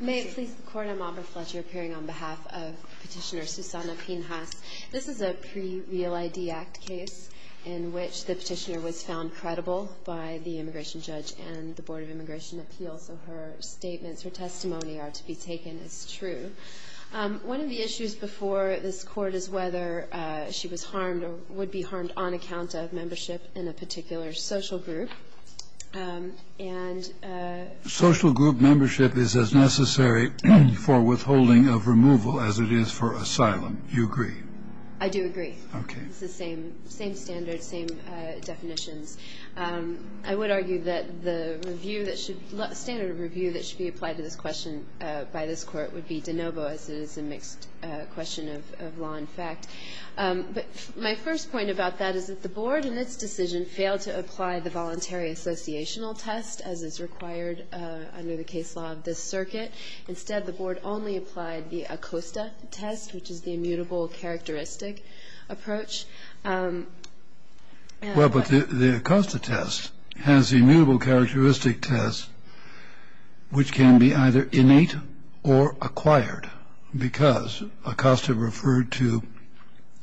May it please the Court, I'm Amber Fletcher, appearing on behalf of Petitioner Susana Pinhas. This is a pre-Real ID Act case in which the petitioner was found credible by the immigration judge and the Board of Immigration Appeals, so her statements, her testimony are to be taken as true. One of the issues before this Court is whether she was harmed or would be harmed on account of membership in a particular social group. Social group membership is as necessary for withholding of removal as it is for asylum. You agree? I do agree. It's the same standard, same definitions. I would argue that the standard of review that should be applied to this question by this Court would be de novo, as it is a mixed question of law and fact. But my first point about that is that the Board, in its decision, failed to apply the voluntary associational test as is required under the case law of this circuit. Instead, the Board only applied the ACOSTA test, which is the immutable characteristic approach. Well, but the ACOSTA test has immutable characteristic tests, which can be either innate or acquired, because ACOSTA referred to,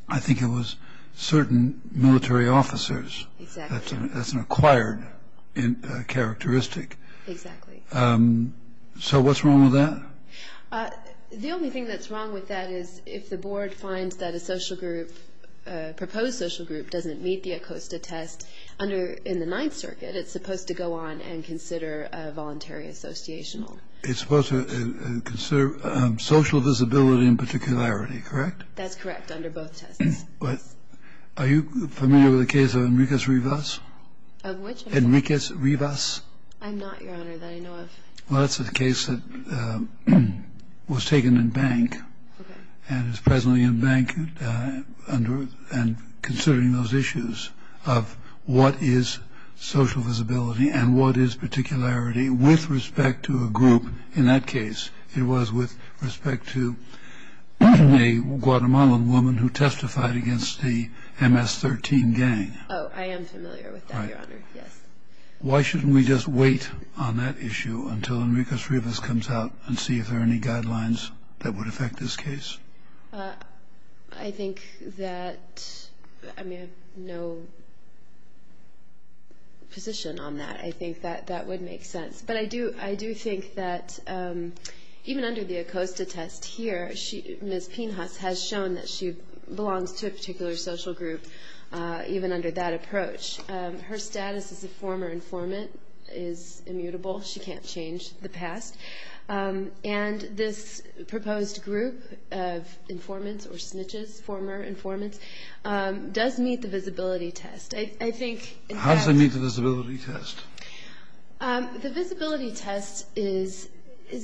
I think it was certain military officers. Exactly. That's an acquired characteristic. Exactly. So what's wrong with that? The only thing that's wrong with that is if the Board finds that a social group, a proposed social group doesn't meet the ACOSTA test under the Ninth Circuit, it's supposed to go on and consider a voluntary associational. It's supposed to consider social visibility and particularity, correct? That's correct, under both tests. Are you familiar with the case of Enriquez-Rivas? Of which? Enriquez-Rivas. I'm not, Your Honor. That I know of. Well, that's a case that was taken in Bank and is presently in Bank and considering those issues of what is social visibility and what is particularity with respect to a group. In that case, it was with respect to a Guatemalan woman who testified against the MS-13 gang. Oh, I am familiar with that, Your Honor, yes. Why shouldn't we just wait on that issue until Enriquez-Rivas comes out and see if there are any guidelines that would affect this case? I think that I have no position on that. I think that that would make sense. But I do think that even under the ACOSTA test here, Ms. Pinhas has shown that she belongs to a particular social group even under that approach. Her status as a former informant is immutable. She can't change the past. And this proposed group of informants or snitches, former informants, does meet the visibility test. I think it does. How does it meet the visibility test? The visibility test is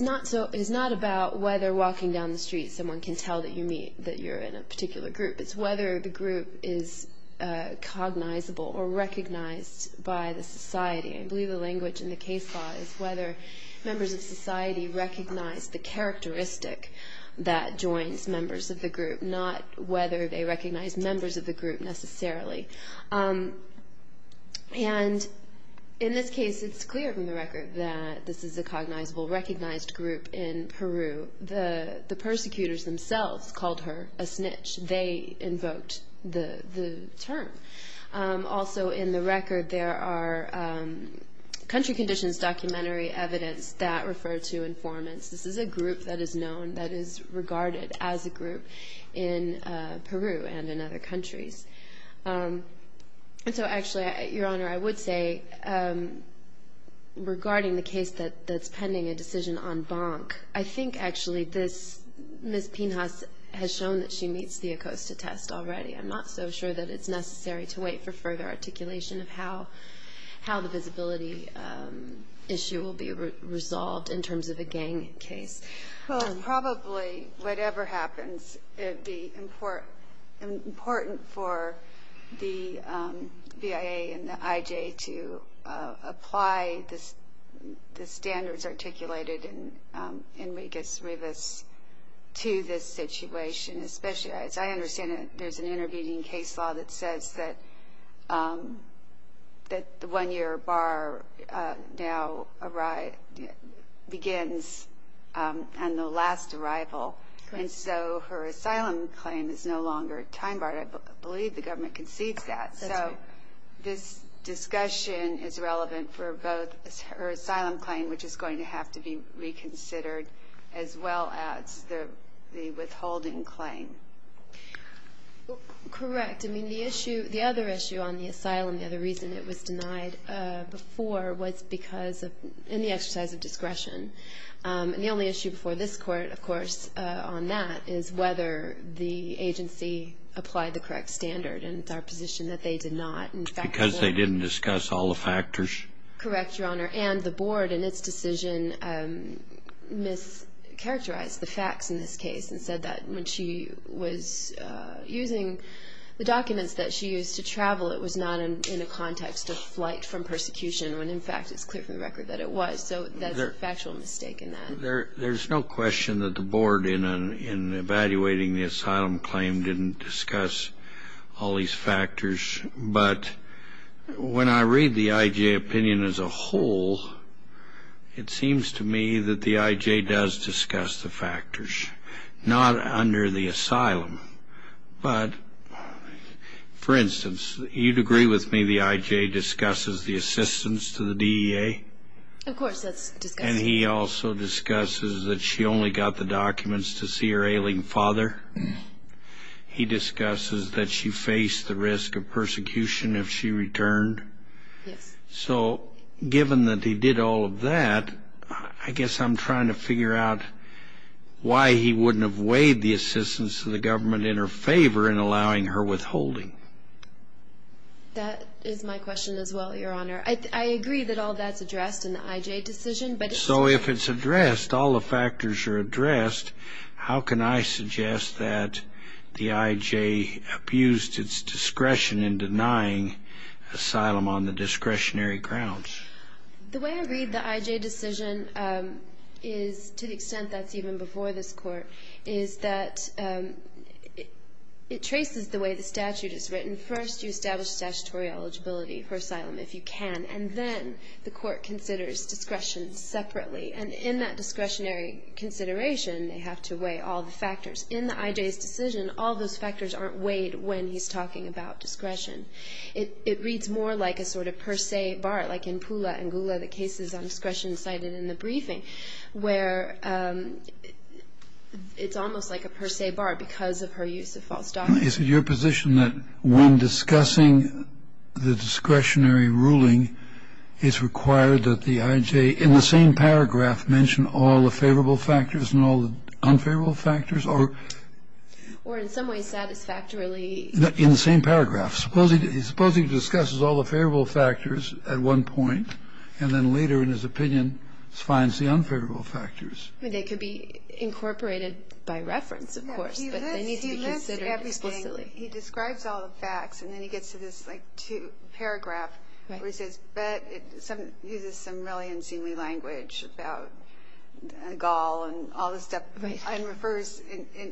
not about whether walking down the street someone can tell that you're in a particular group. It's whether the group is cognizable or recognized by the society. I believe the language in the case law is whether members of society recognize the characteristic that joins members of the group, not whether they recognize members of the group necessarily. And in this case, it's clear from the record that this is a cognizable, recognized group in Peru. The persecutors themselves called her a snitch. They invoked the term. Also in the record, there are country conditions documentary evidence that refer to informants. This is a group that is known, that is regarded as a group in Peru and in other countries. And so actually, Your Honor, I would say regarding the case that's pending a decision on Bonk, I think actually this Ms. Pinhas has shown that she meets the ACOSTA test already. I'm not so sure that it's necessary to wait for further articulation of how the visibility issue will be resolved in terms of a gang case. Well, probably whatever happens, it would be important for the VIA and the IJ to apply the standards articulated in Regas-Rivas to this situation, especially as I understand it, there's an intervening case law that says that the one-year bar now begins on the last arrival. And so her asylum claim is no longer time barred. I believe the government concedes that. So this discussion is relevant for both her asylum claim, which is going to have to be reconsidered, as well as the withholding claim. Correct. I mean, the other issue on the asylum, the other reason it was denied before, was because of any exercise of discretion. And the only issue before this Court, of course, on that, is whether the agency applied the correct standard. And it's our position that they did not. Because they didn't discuss all the factors? Correct, Your Honor. And the Board, in its decision, mischaracterized the facts in this case and said that when she was using the documents that she used to travel, it was not in a context of flight from persecution, when, in fact, it's clear from the record that it was. So that's a factual mistake in that. There's no question that the Board, in evaluating the asylum claim, didn't discuss all these factors. But when I read the I.J. opinion as a whole, it seems to me that the I.J. does discuss the factors, not under the asylum. But, for instance, you'd agree with me the I.J. discusses the assistance to the DEA. Of course, that's discussed. And he also discusses that she only got the documents to see her ailing father. He discusses that she faced the risk of persecution if she returned. Yes. So, given that he did all of that, I guess I'm trying to figure out why he wouldn't have weighed the assistance of the government in her favor in allowing her withholding. That is my question as well, Your Honor. I agree that all that's addressed in the I.J. decision. So if it's addressed, all the factors are addressed, how can I suggest that the I.J. abused its discretion in denying asylum on the discretionary grounds? The way I read the I.J. decision is, to the extent that's even before this Court, is that it traces the way the statute is written. First, you establish statutory eligibility for asylum, if you can. And then the Court considers discretion separately. And in that discretionary consideration, they have to weigh all the factors. In the I.J.'s decision, all those factors aren't weighed when he's talking about discretion. It reads more like a sort of per se bar, like in Pula and Gula, the cases on discretion cited in the briefing, where it's almost like a per se bar because of her use of false documents. Is it your position that when discussing the discretionary ruling, it's required that the I.J. in the same paragraph mention all the favorable factors and all the unfavorable factors, or? Or in some ways satisfactorily. In the same paragraph. Suppose he discusses all the favorable factors at one point, and then later in his opinion finds the unfavorable factors. They could be incorporated by reference, of course. But they need to be considered explicitly. He describes all the facts, and then he gets to this, like, paragraph where he says, but uses some really unseemly language about Gaul and all this stuff, and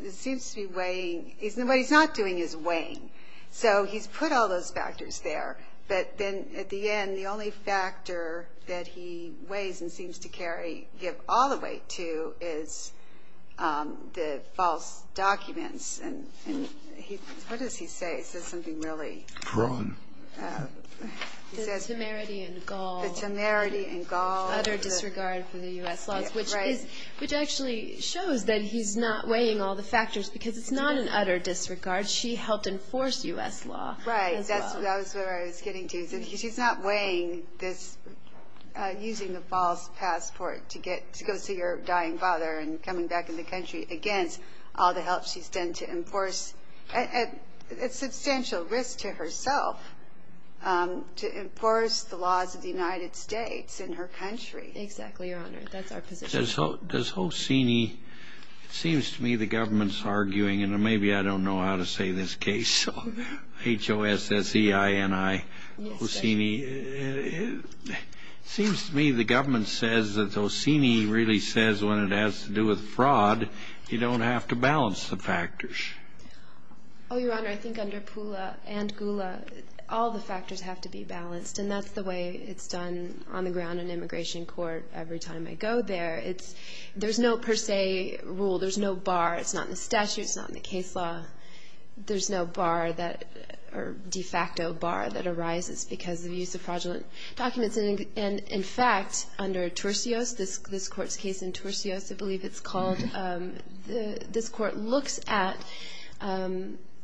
it seems to be weighing. What he's not doing is weighing. So he's put all those factors there. But then at the end, the only factor that he weighs and seems to give all the weight to is the false documents. And what does he say? He says something really he says. The temerity in Gaul. The temerity in Gaul. The utter disregard for the U.S. laws, which actually shows that he's not weighing all the factors because it's not an utter disregard. She helped enforce U.S. law. Right. That's what I was getting to. She's not weighing this using the false passport to go see her dying father and coming back in the country against all the help she's done to enforce. It's a substantial risk to herself to enforce the laws of the United States in her country. Exactly, Your Honor. That's our position. Does Hosini, it seems to me the government's arguing, and maybe I don't know how to say this case, H-O-S-S-E-I-N-I, Hosini, it seems to me the government says that Hosini really says when it has to do with fraud you don't have to balance the factors. Oh, Your Honor, I think under Pula and Gula all the factors have to be balanced, and that's the way it's done on the ground in immigration court every time I go there. There's no per se rule. There's no bar. It's not in the statute. It's not in the case law. There's no bar or de facto bar that arises because of the use of fraudulent documents. And, in fact, under Tursios, this court's case in Tursios, I believe it's called, this court looks at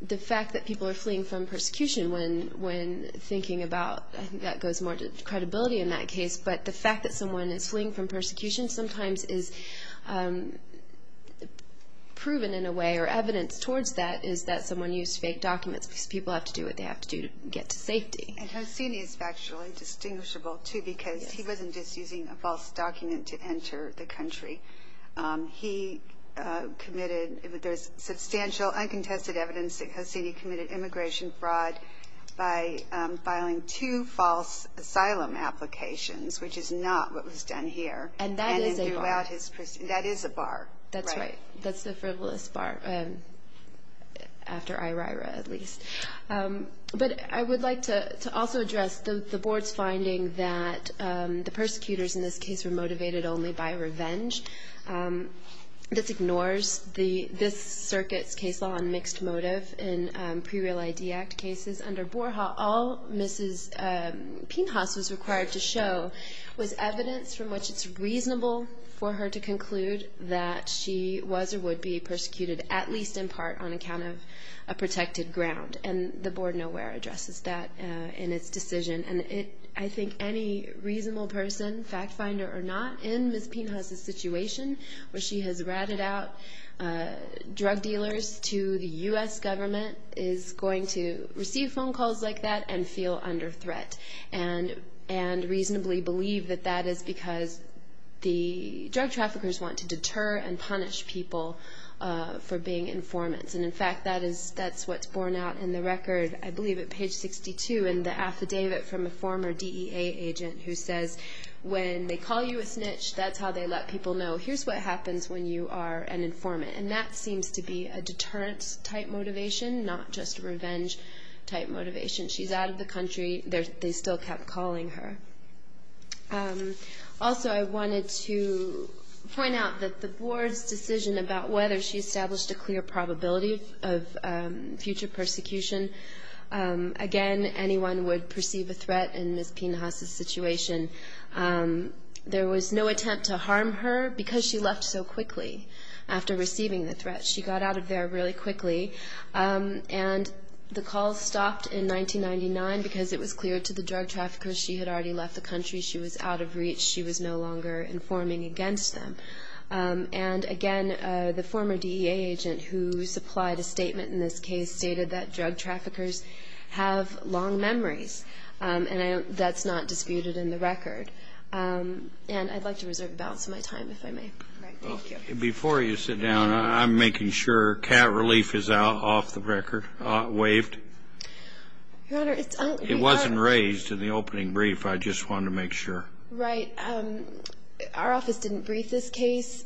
the fact that people are fleeing from persecution when thinking about, I think that goes more to credibility in that case, but the fact that someone is fleeing from persecution sometimes is proven in a way and their evidence towards that is that someone used fake documents because people have to do what they have to do to get to safety. And Hosini is factually distinguishable, too, because he wasn't just using a false document to enter the country. He committed substantial uncontested evidence that Hosini committed immigration fraud by filing two false asylum applications, which is not what was done here. And that is a bar. That is a bar. That's right. That's the frivolous bar, after IRAIRA, at least. But I would like to also address the Board's finding that the persecutors in this case were motivated only by revenge. This ignores this circuit's case law on mixed motive in pre-Real ID Act cases. Under Borja, all Mrs. Pinhas was required to show was evidence from which it's reasonable for her to conclude that she was or would be persecuted, at least in part, on account of a protected ground. And the Board nowhere addresses that in its decision. And I think any reasonable person, fact finder or not, in Mrs. Pinhas' situation, where she has ratted out drug dealers to the U.S. government, is going to receive phone calls like that and feel under threat and reasonably believe that that is because the drug traffickers want to deter and punish people for being informants. And, in fact, that's what's borne out in the record, I believe at page 62, in the affidavit from a former DEA agent who says, when they call you a snitch, that's how they let people know, here's what happens when you are an informant. And that seems to be a deterrence-type motivation, not just revenge-type motivation. She's out of the country. They still kept calling her. Also, I wanted to point out that the Board's decision about whether she established a clear probability of future persecution, again, anyone would perceive a threat in Mrs. Pinhas' situation. There was no attempt to harm her because she left so quickly after receiving the threat. She got out of there really quickly. And the calls stopped in 1999 because it was clear to the drug traffickers she had already left the country. She was out of reach. She was no longer informing against them. And, again, the former DEA agent who supplied a statement in this case stated that drug traffickers have long memories, and that's not disputed in the record. And I'd like to reserve a balance of my time, if I may. Before you sit down, I'm making sure cat relief is off the record, waived. It wasn't raised in the opening brief. I just wanted to make sure. Right. Our office didn't brief this case.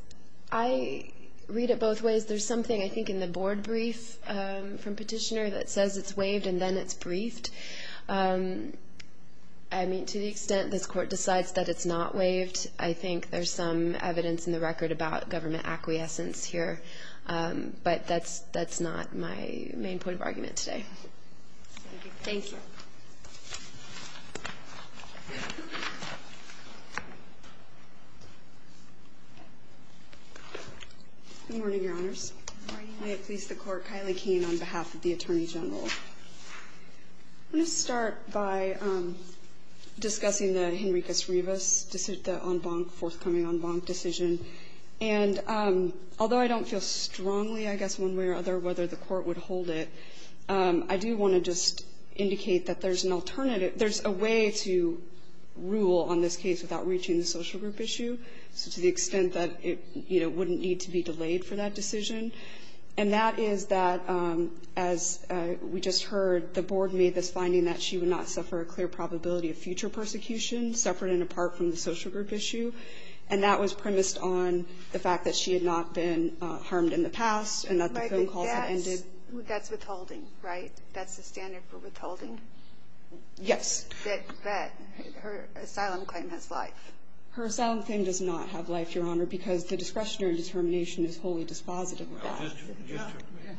I read it both ways. There's something, I think, in the Board brief from Petitioner that says it's waived and then it's briefed. I mean, to the extent this Court decides that it's not waived, I think there's some evidence in the record about government acquiescence here. But that's not my main point of argument today. Thank you. Good morning, Your Honors. Good morning. May it please the Court, Kylie Keene on behalf of the Attorney General. I'm going to start by discussing the Henricus Rivas on Bonk, forthcoming on Bonk decision. And although I don't feel strongly, I guess one way or other, whether the Court would hold it, I do want to just indicate that there's an alternative. There's a way to rule on this case without reaching the social group issue, so to the extent that it, you know, wouldn't need to be delayed for that decision. And that is that, as we just heard, the Board made this finding that she would not suffer a clear probability of future persecution, separate and apart from the social group issue. And that was premised on the fact that she had not been harmed in the past and that the phone calls had ended. But that's withholding, right? That's the standard for withholding? Yes. That her asylum claim has life. Her asylum claim does not have life, Your Honor, because the discretionary determination is wholly dispositive of that. It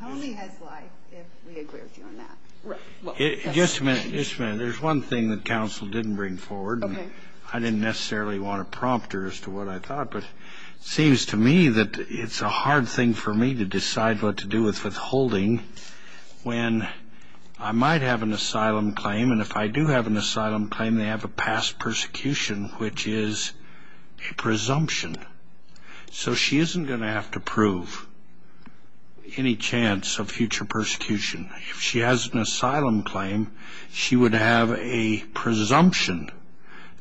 only has life if we agree with you on that. Right. Just a minute. Just a minute. There's one thing that counsel didn't bring forward. Okay. I didn't necessarily want to prompt her as to what I thought, but it seems to me that it's a hard thing for me to decide what to do with withholding when I might have an asylum claim, and if I do have an asylum claim, they have a past persecution, which is a presumption. So she isn't going to have to prove any chance of future persecution. If she has an asylum claim, she would have a presumption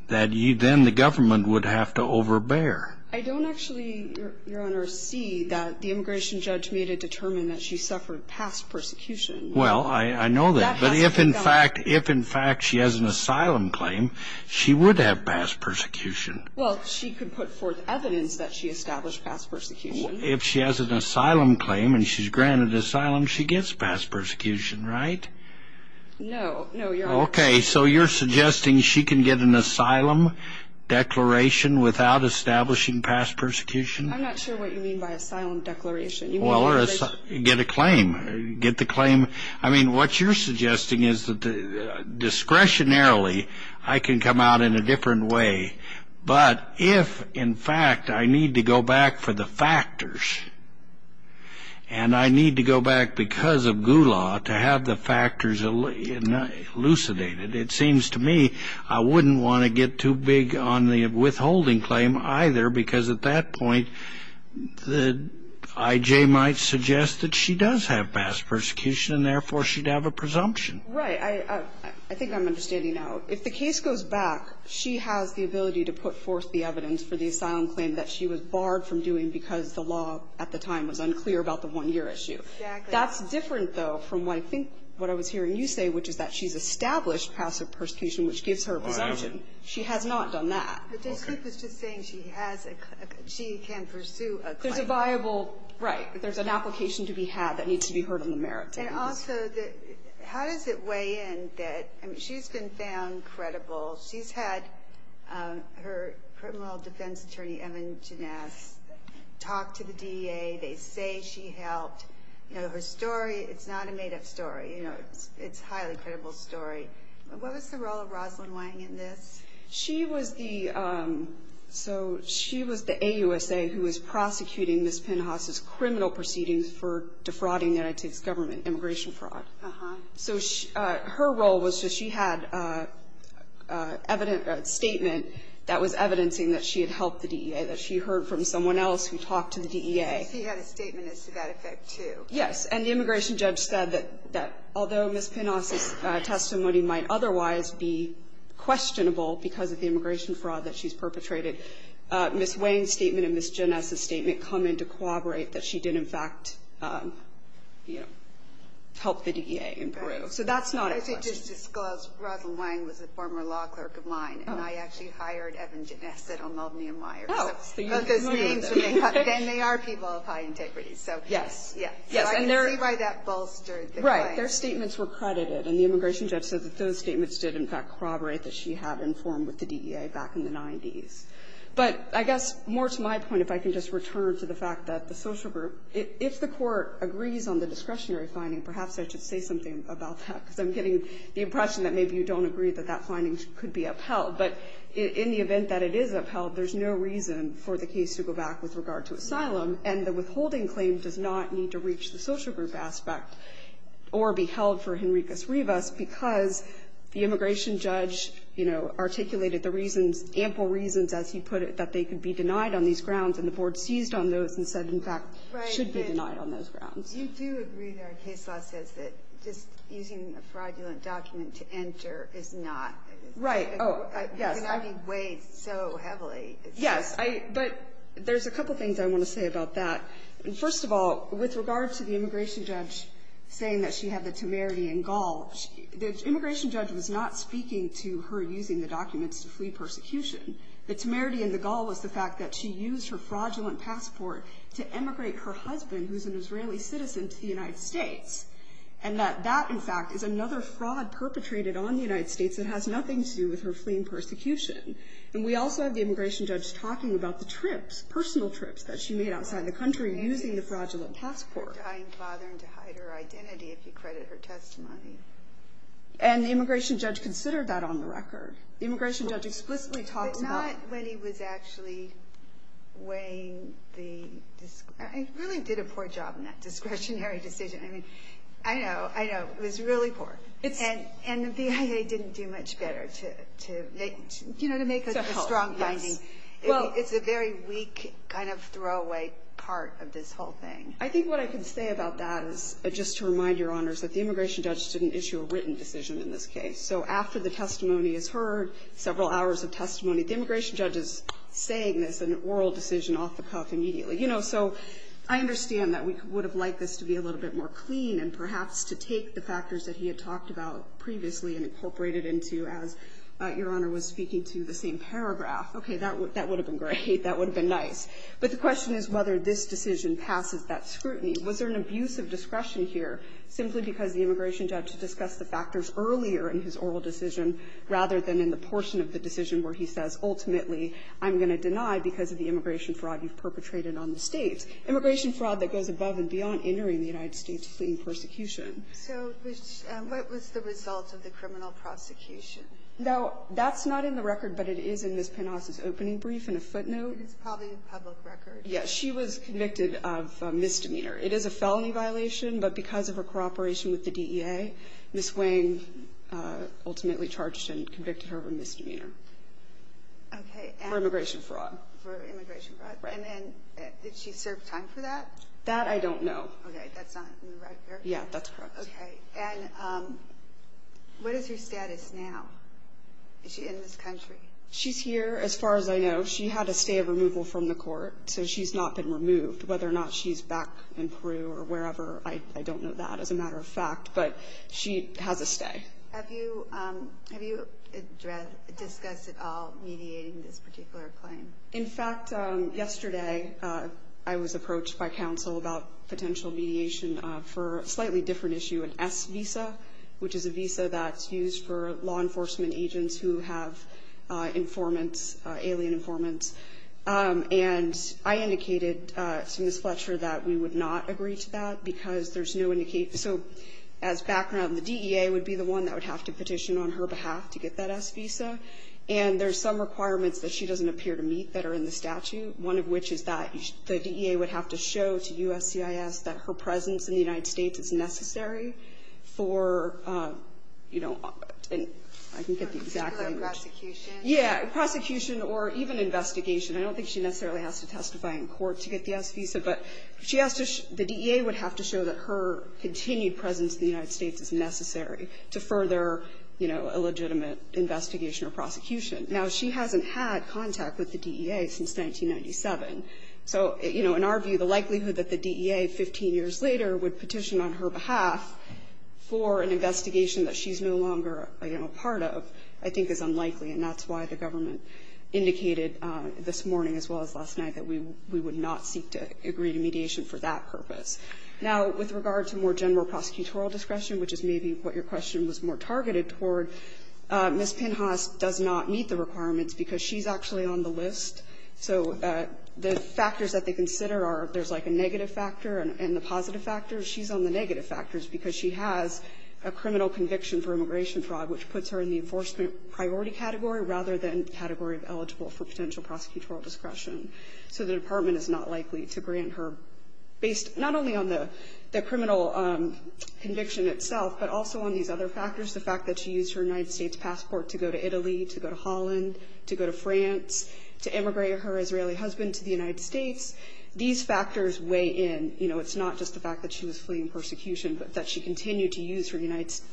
that then the government would have to overbear. I don't actually, Your Honor, see that the immigration judge made a determination that she suffered past persecution. Well, I know that. But if, in fact, she has an asylum claim, she would have past persecution. Well, she could put forth evidence that she established past persecution. If she has an asylum claim and she's granted asylum, she gets past persecution, right? No. No, Your Honor. Okay. So you're suggesting she can get an asylum declaration without establishing past persecution? I'm not sure what you mean by asylum declaration. Well, get a claim. Get the claim. I mean, what you're suggesting is that discretionarily I can come out in a different way. But if, in fact, I need to go back for the factors, and I need to go back because of Gula to have the factors elucidated, it seems to me I wouldn't want to get too big on the withholding claim either, because at that point, the I.J. might suggest that she does have past persecution, and, therefore, she'd have a presumption. Right. I think I'm understanding now. If the case goes back, she has the ability to put forth the evidence for the asylum claim that she was barred from doing because the law at the time was unclear about the one-year issue. Exactly. That's different, though, from what I think what I was hearing you say, which is that she's established past persecution, which gives her a presumption. Whatever. She has not done that. But Joseph was just saying she can pursue a claim. There's a viable right. There's an application to be had that needs to be heard on the merits. And also, how does it weigh in that she's been found credible? She's had her criminal defense attorney, Evan Ginesse, talk to the DEA. They say she helped. Her story, it's not a made-up story. It's a highly credible story. What was the role of Rosalyn Wang in this? She was the so she was the AUSA who was prosecuting Ms. Pinhaus' criminal proceedings for defrauding the United States government, immigration fraud. So her role was that she had evidence, a statement that was evidencing that she had helped the DEA, that she heard from someone else who talked to the DEA. She had a statement as to that effect, too. Yes. And the immigration judge said that although Ms. Pinhaus' testimony might otherwise be questionable because of the immigration fraud that she's perpetrated, Ms. Wang's statement and Ms. Ginesse's statement come into corroborate that she did, in fact, you know, help the DEA in Peru. So that's not a question. I should just disclose, Rosalyn Wang was a former law clerk of mine, and I actually hired Evan Ginesse to help me admire. Oh. So you remember them. Then they are people of high integrity. So, yes. So I can see why that bolstered the claim. Right. Their statements were credited. And the immigration judge said that those statements did, in fact, corroborate that she had informed with the DEA back in the 90s. But I guess, more to my point, if I can just return to the fact that the social group, if the Court agrees on the discretionary finding, perhaps I should say something about that, because I'm getting the impression that maybe you don't agree that that finding could be upheld. But in the event that it is upheld, there's no reason for the case to go back with regard to asylum, and the withholding claim does not need to reach the social group aspect or be held for Henricus Rivas, because the immigration judge, you know, articulated the reasons, ample reasons, as he put it, that they could be denied on these grounds, and the Board seized on those and said, in fact, should be denied on those grounds. Right. But you do agree there, and case law says that just using a fraudulent document to enter is not. Right. Oh, yes. It cannot be weighed so heavily. Yes. But there's a couple things I want to say about that. First of all, with regard to the immigration judge saying that she had the temerity in Gaul, the immigration judge was not speaking to her using the documents to flee persecution. The temerity in the Gaul was the fact that she used her fraudulent passport to emigrate her husband, who's an Israeli citizen, to the United States, and that that, in fact, is another fraud perpetrated on the United States that has nothing to do with her fleeing persecution. And we also have the immigration judge talking about the trips, personal trips, that she made outside the country using the fraudulent passport. I am bothering to hide her identity, if you credit her testimony. And the immigration judge considered that on the record. The immigration judge explicitly talked about. But not when he was actually weighing the... He really did a poor job in that discretionary decision. I mean, I know, I know. It was really poor. And the BIA didn't do much better to make a strong finding. It's a very weak kind of throwaway part of this whole thing. I think what I can say about that is, just to remind Your Honors, that the immigration judge didn't issue a written decision in this case. So after the testimony is heard, several hours of testimony, the immigration judge is saying there's an oral decision off the cuff immediately. You know, so I understand that we would have liked this to be a little bit more clean and perhaps to take the factors that he had talked about previously and incorporate it into as Your Honor was speaking to the same paragraph. Okay. That would have been great. That would have been nice. But the question is whether this decision passes that scrutiny. Was there an abuse of discretion here simply because the immigration judge discussed the factors earlier in his oral decision rather than in the portion of the decision where he says, ultimately, I'm going to deny because of the immigration fraud you've perpetrated on the State? Immigration fraud that goes above and beyond entering the United States clean persecution. So what was the result of the criminal prosecution? No, that's not in the record, but it is in Ms. Penhas' opening brief and a footnote. It's probably a public record. Yes, she was convicted of misdemeanor. It is a felony violation, but because of her cooperation with the DEA, Ms. Wayne ultimately charged and convicted her of a misdemeanor. Okay. For immigration fraud. For immigration fraud. Right. And then did she serve time for that? That I don't know. Okay. That's not in the record? Yeah, that's correct. Okay. And what is her status now? Is she in this country? She's here, as far as I know. She had a stay of removal from the court, so she's not been removed. Whether or not she's back in Peru or wherever, I don't know that, as a matter of fact. But she has a stay. Have you discussed at all mediating this particular claim? In fact, yesterday I was approached by counsel about potential mediation for a slightly different issue, an S visa, which is a visa that's used for law enforcement agents who have informants, alien informants. And I indicated to Ms. Fletcher that we would not agree to that because there's no indication. So as background, the DEA would be the one that would have to petition on her behalf to get that S visa. And there's some requirements that she doesn't appear to meet that are in the statute, one of which is that the DEA would have to show to USCIS that her presence in the United States is necessary for, you know, and I can get the exact language. Kagan. Prosecution. Yeah. Prosecution or even investigation. I don't think she necessarily has to testify in court to get the S visa, but she has to the DEA would have to show that her continued presence in the United States is necessary to further, you know, a legitimate investigation or prosecution. Now, she hasn't had contact with the DEA since 1997. So, you know, in our view, the likelihood that the DEA 15 years later would petition on her behalf for an investigation that she's no longer, you know, part of I think is unlikely, and that's why the government indicated this morning as well as last night that we would not seek to agree to mediation for that purpose. Now, with regard to more general prosecutorial discretion, which is maybe what your question was more targeted toward, Ms. Pinhas does not meet the requirements because she's actually on the list. So the factors that they consider are there's like a negative factor and the positive factor. She's on the negative factors because she has a criminal conviction for immigration fraud, which puts her in the enforcement priority category rather than category eligible for potential prosecutorial discretion. So the Department is not likely to grant her based not only on the criminal conviction itself, but also on these other factors, the fact that she used her United States passport to go to Italy, to go to Holland, to go to France, to immigrate her Israeli husband to the United States. These factors weigh in. You know, it's not just the fact that she was fleeing persecution, but that she continued to use her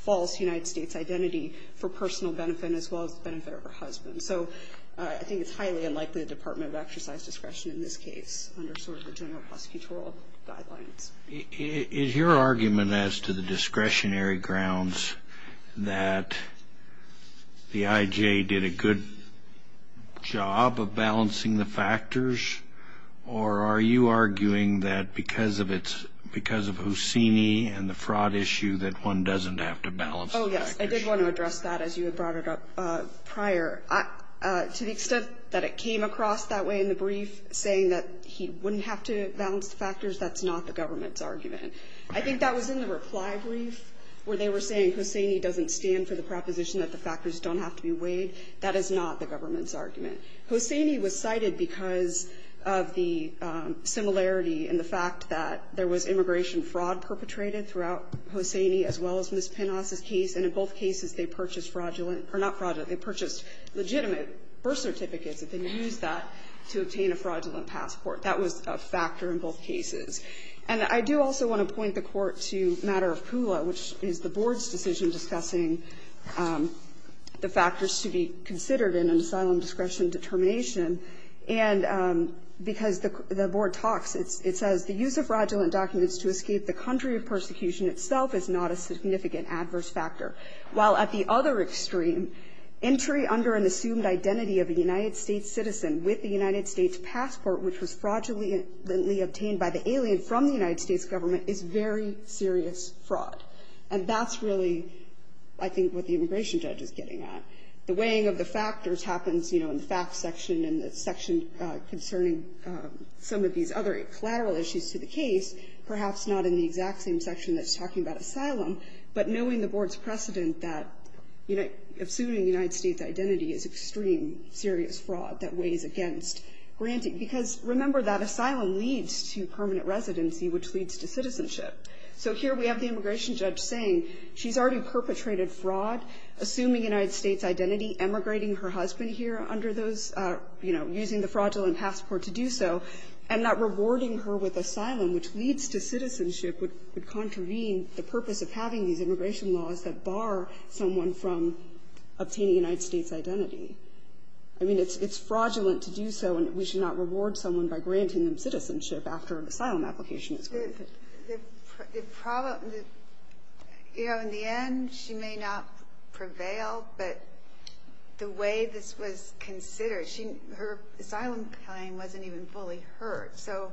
false United States identity for personal benefit as well as the benefit of her husband. So I think it's highly unlikely the Department would exercise discretion in this case under sort of the general prosecutorial guidelines. Is your argument as to the discretionary grounds that the IJ did a good job of balancing the factors, or are you arguing that because of its, because of Houssini and the fraud issue that one doesn't have to balance the factors? Oh, yes. I did want to address that as you had brought it up prior. To the extent that it came across that way in the brief, saying that he wouldn't have to balance the factors, that's not the government's argument. I think that was in the reply brief, where they were saying Houssini doesn't stand for the proposition that the factors don't have to be weighed. That is not the government's argument. Houssini was cited because of the similarity in the fact that there was immigration fraud perpetrated throughout Houssini as well as Ms. Pinas's case, and in both cases they purchased fraudulent or not fraudulent, they purchased legitimate birth certificates and then used that to obtain a fraudulent passport. That was a factor in both cases. And I do also want to point the Court to the matter of Pula, which is the Board's decision discussing the factors to be considered in an asylum discretion determination. And because the Board talks, it says the use of fraudulent documents to escape the country of persecution itself is not a significant adverse factor, while at the other extreme, entry under an assumed identity of a United States citizen with the United States passport, which was fraudulently obtained by the alien from the United States government, is very serious fraud. And that's really, I think, what the immigration judge is getting at. The weighing of the factors happens, you know, in the facts section and the section concerning some of these other collateral issues to the case, perhaps not in the exact same section that's talking about asylum, but knowing the Board's precedent that assuming United States identity is extreme serious fraud that weighs against granting. Because remember that asylum leads to permanent residency, which leads to citizenship. So here we have the immigration judge saying she's already perpetrated fraud, assuming United States identity, emigrating her husband here under those, you know, using the fraudulent passport to do so, and not rewarding her with asylum, which leads to citizenship, would contravene the purpose of having these immigration laws that bar someone from obtaining United States identity. I mean, it's fraudulent to do so, and we should not reward someone by granting them citizenship after an asylum application is granted. The problem, you know, in the end, she may not prevail, but the way this was considered, her asylum claim wasn't even fully heard. So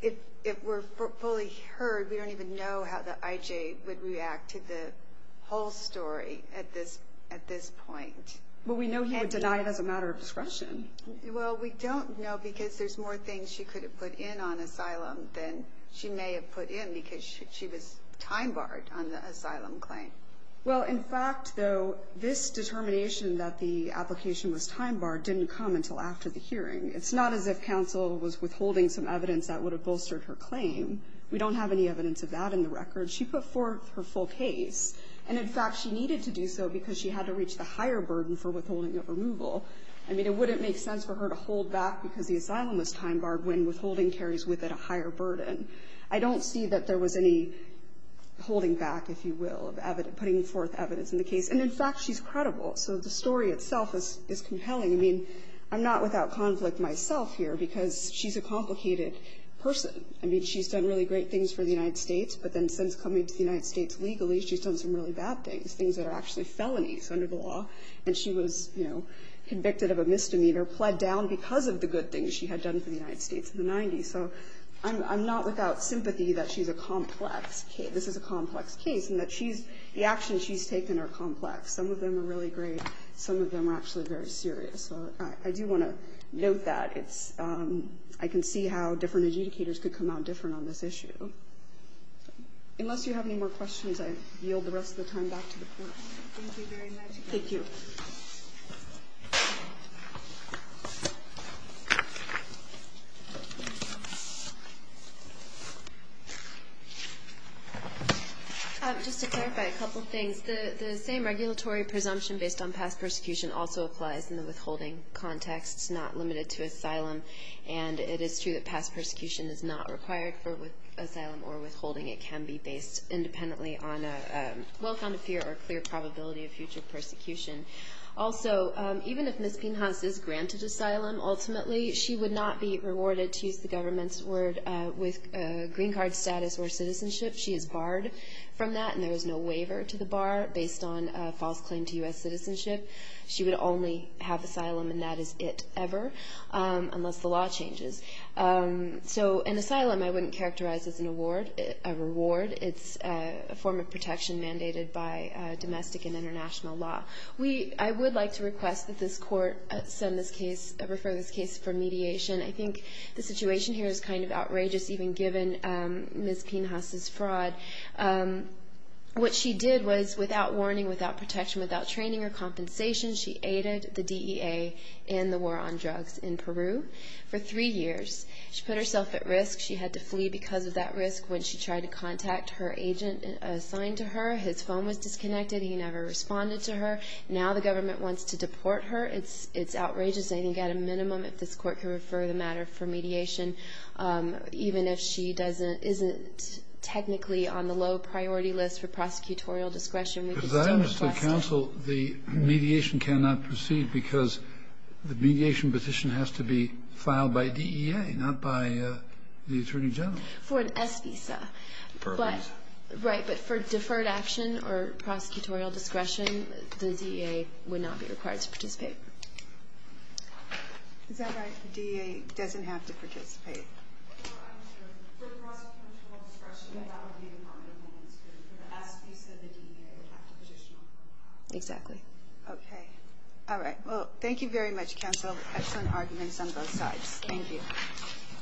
if it were fully heard, we don't even know how the IJ would react to the whole story at this point. Well, we know he would deny it as a matter of discretion. Well, we don't know because there's more things she could have put in on asylum than she may have put in because she was time-barred on the asylum claim. Well, in fact, though, this determination that the application was time-barred didn't come until after the hearing. It's not as if counsel was withholding some evidence that would have bolstered her claim. We don't have any evidence of that in the record. She put forth her full case. And, in fact, she needed to do so because she had to reach the higher burden for withholding of removal. I mean, it wouldn't make sense for her to hold back because the asylum was time-barred when withholding carries with it a higher burden. I don't see that there was any holding back, if you will, of putting forth evidence in the case. And, in fact, she's credible. So the story itself is compelling. I mean, I'm not without conflict myself here because she's a complicated person. I mean, she's done really great things for the United States, but then since coming to the United States legally, she's done some really bad things, things that are actually felonies under the law. And she was, you know, convicted of a misdemeanor, pled down because of the good things she had done for the United States in the 90s. So I'm not without sympathy that she's a complex case. This is a complex case, and that she's the actions she's taken are complex. Some of them are really great. Some of them are actually very serious. So I do want to note that. It's – I can see how different adjudicators could come out different on this issue. Unless you have any more questions, I yield the rest of the time back to the Court. Thank you very much. Thank you. Just to clarify a couple things. The same regulatory presumption based on past persecution also applies in the withholding context, not limited to asylum. And it is true that past persecution is not required for asylum or withholding. It can be based independently on a well-founded fear or a clear probability of future persecution. Also, even if Ms. Pinhaus is granted asylum, ultimately she would not be rewarded, to use the government's word, with green card status or citizenship. She is barred from that, and there is no waiver to the bar based on a false claim to U.S. citizenship. She would only have asylum, and that is it ever, unless the law changes. So an asylum I wouldn't characterize as a reward. It's a form of protection mandated by domestic and international law. I would like to request that this Court send this case – refer this case for mediation. I think the situation here is kind of outrageous, even given Ms. Pinhaus' fraud. What she did was, without warning, without protection, without training or compensation, she aided the DEA in the war on drugs in Peru. For three years, she put herself at risk. She had to flee because of that risk when she tried to contact her agent assigned to her. His phone was disconnected. He never responded to her. Now the government wants to deport her. It's outrageous. I think at a minimum, if this Court could refer the matter for mediation, even if she doesn't – isn't technically on the low-priority list for prosecutorial discretion, we could still request it. Also, the mediation cannot proceed because the mediation petition has to be filed by DEA, not by the Attorney General. For an S visa. For a visa. Right, but for deferred action or prosecutorial discretion, the DEA would not be required to participate. Is that right? The DEA doesn't have to participate? No, I'm sure. For prosecutorial discretion, that would be the Department of Homeland Security. For the S visa, the DEA would have to petition on behalf of them. Exactly. Okay. All right. Well, thank you very much, counsel. Excellent arguments on both sides. Thank you.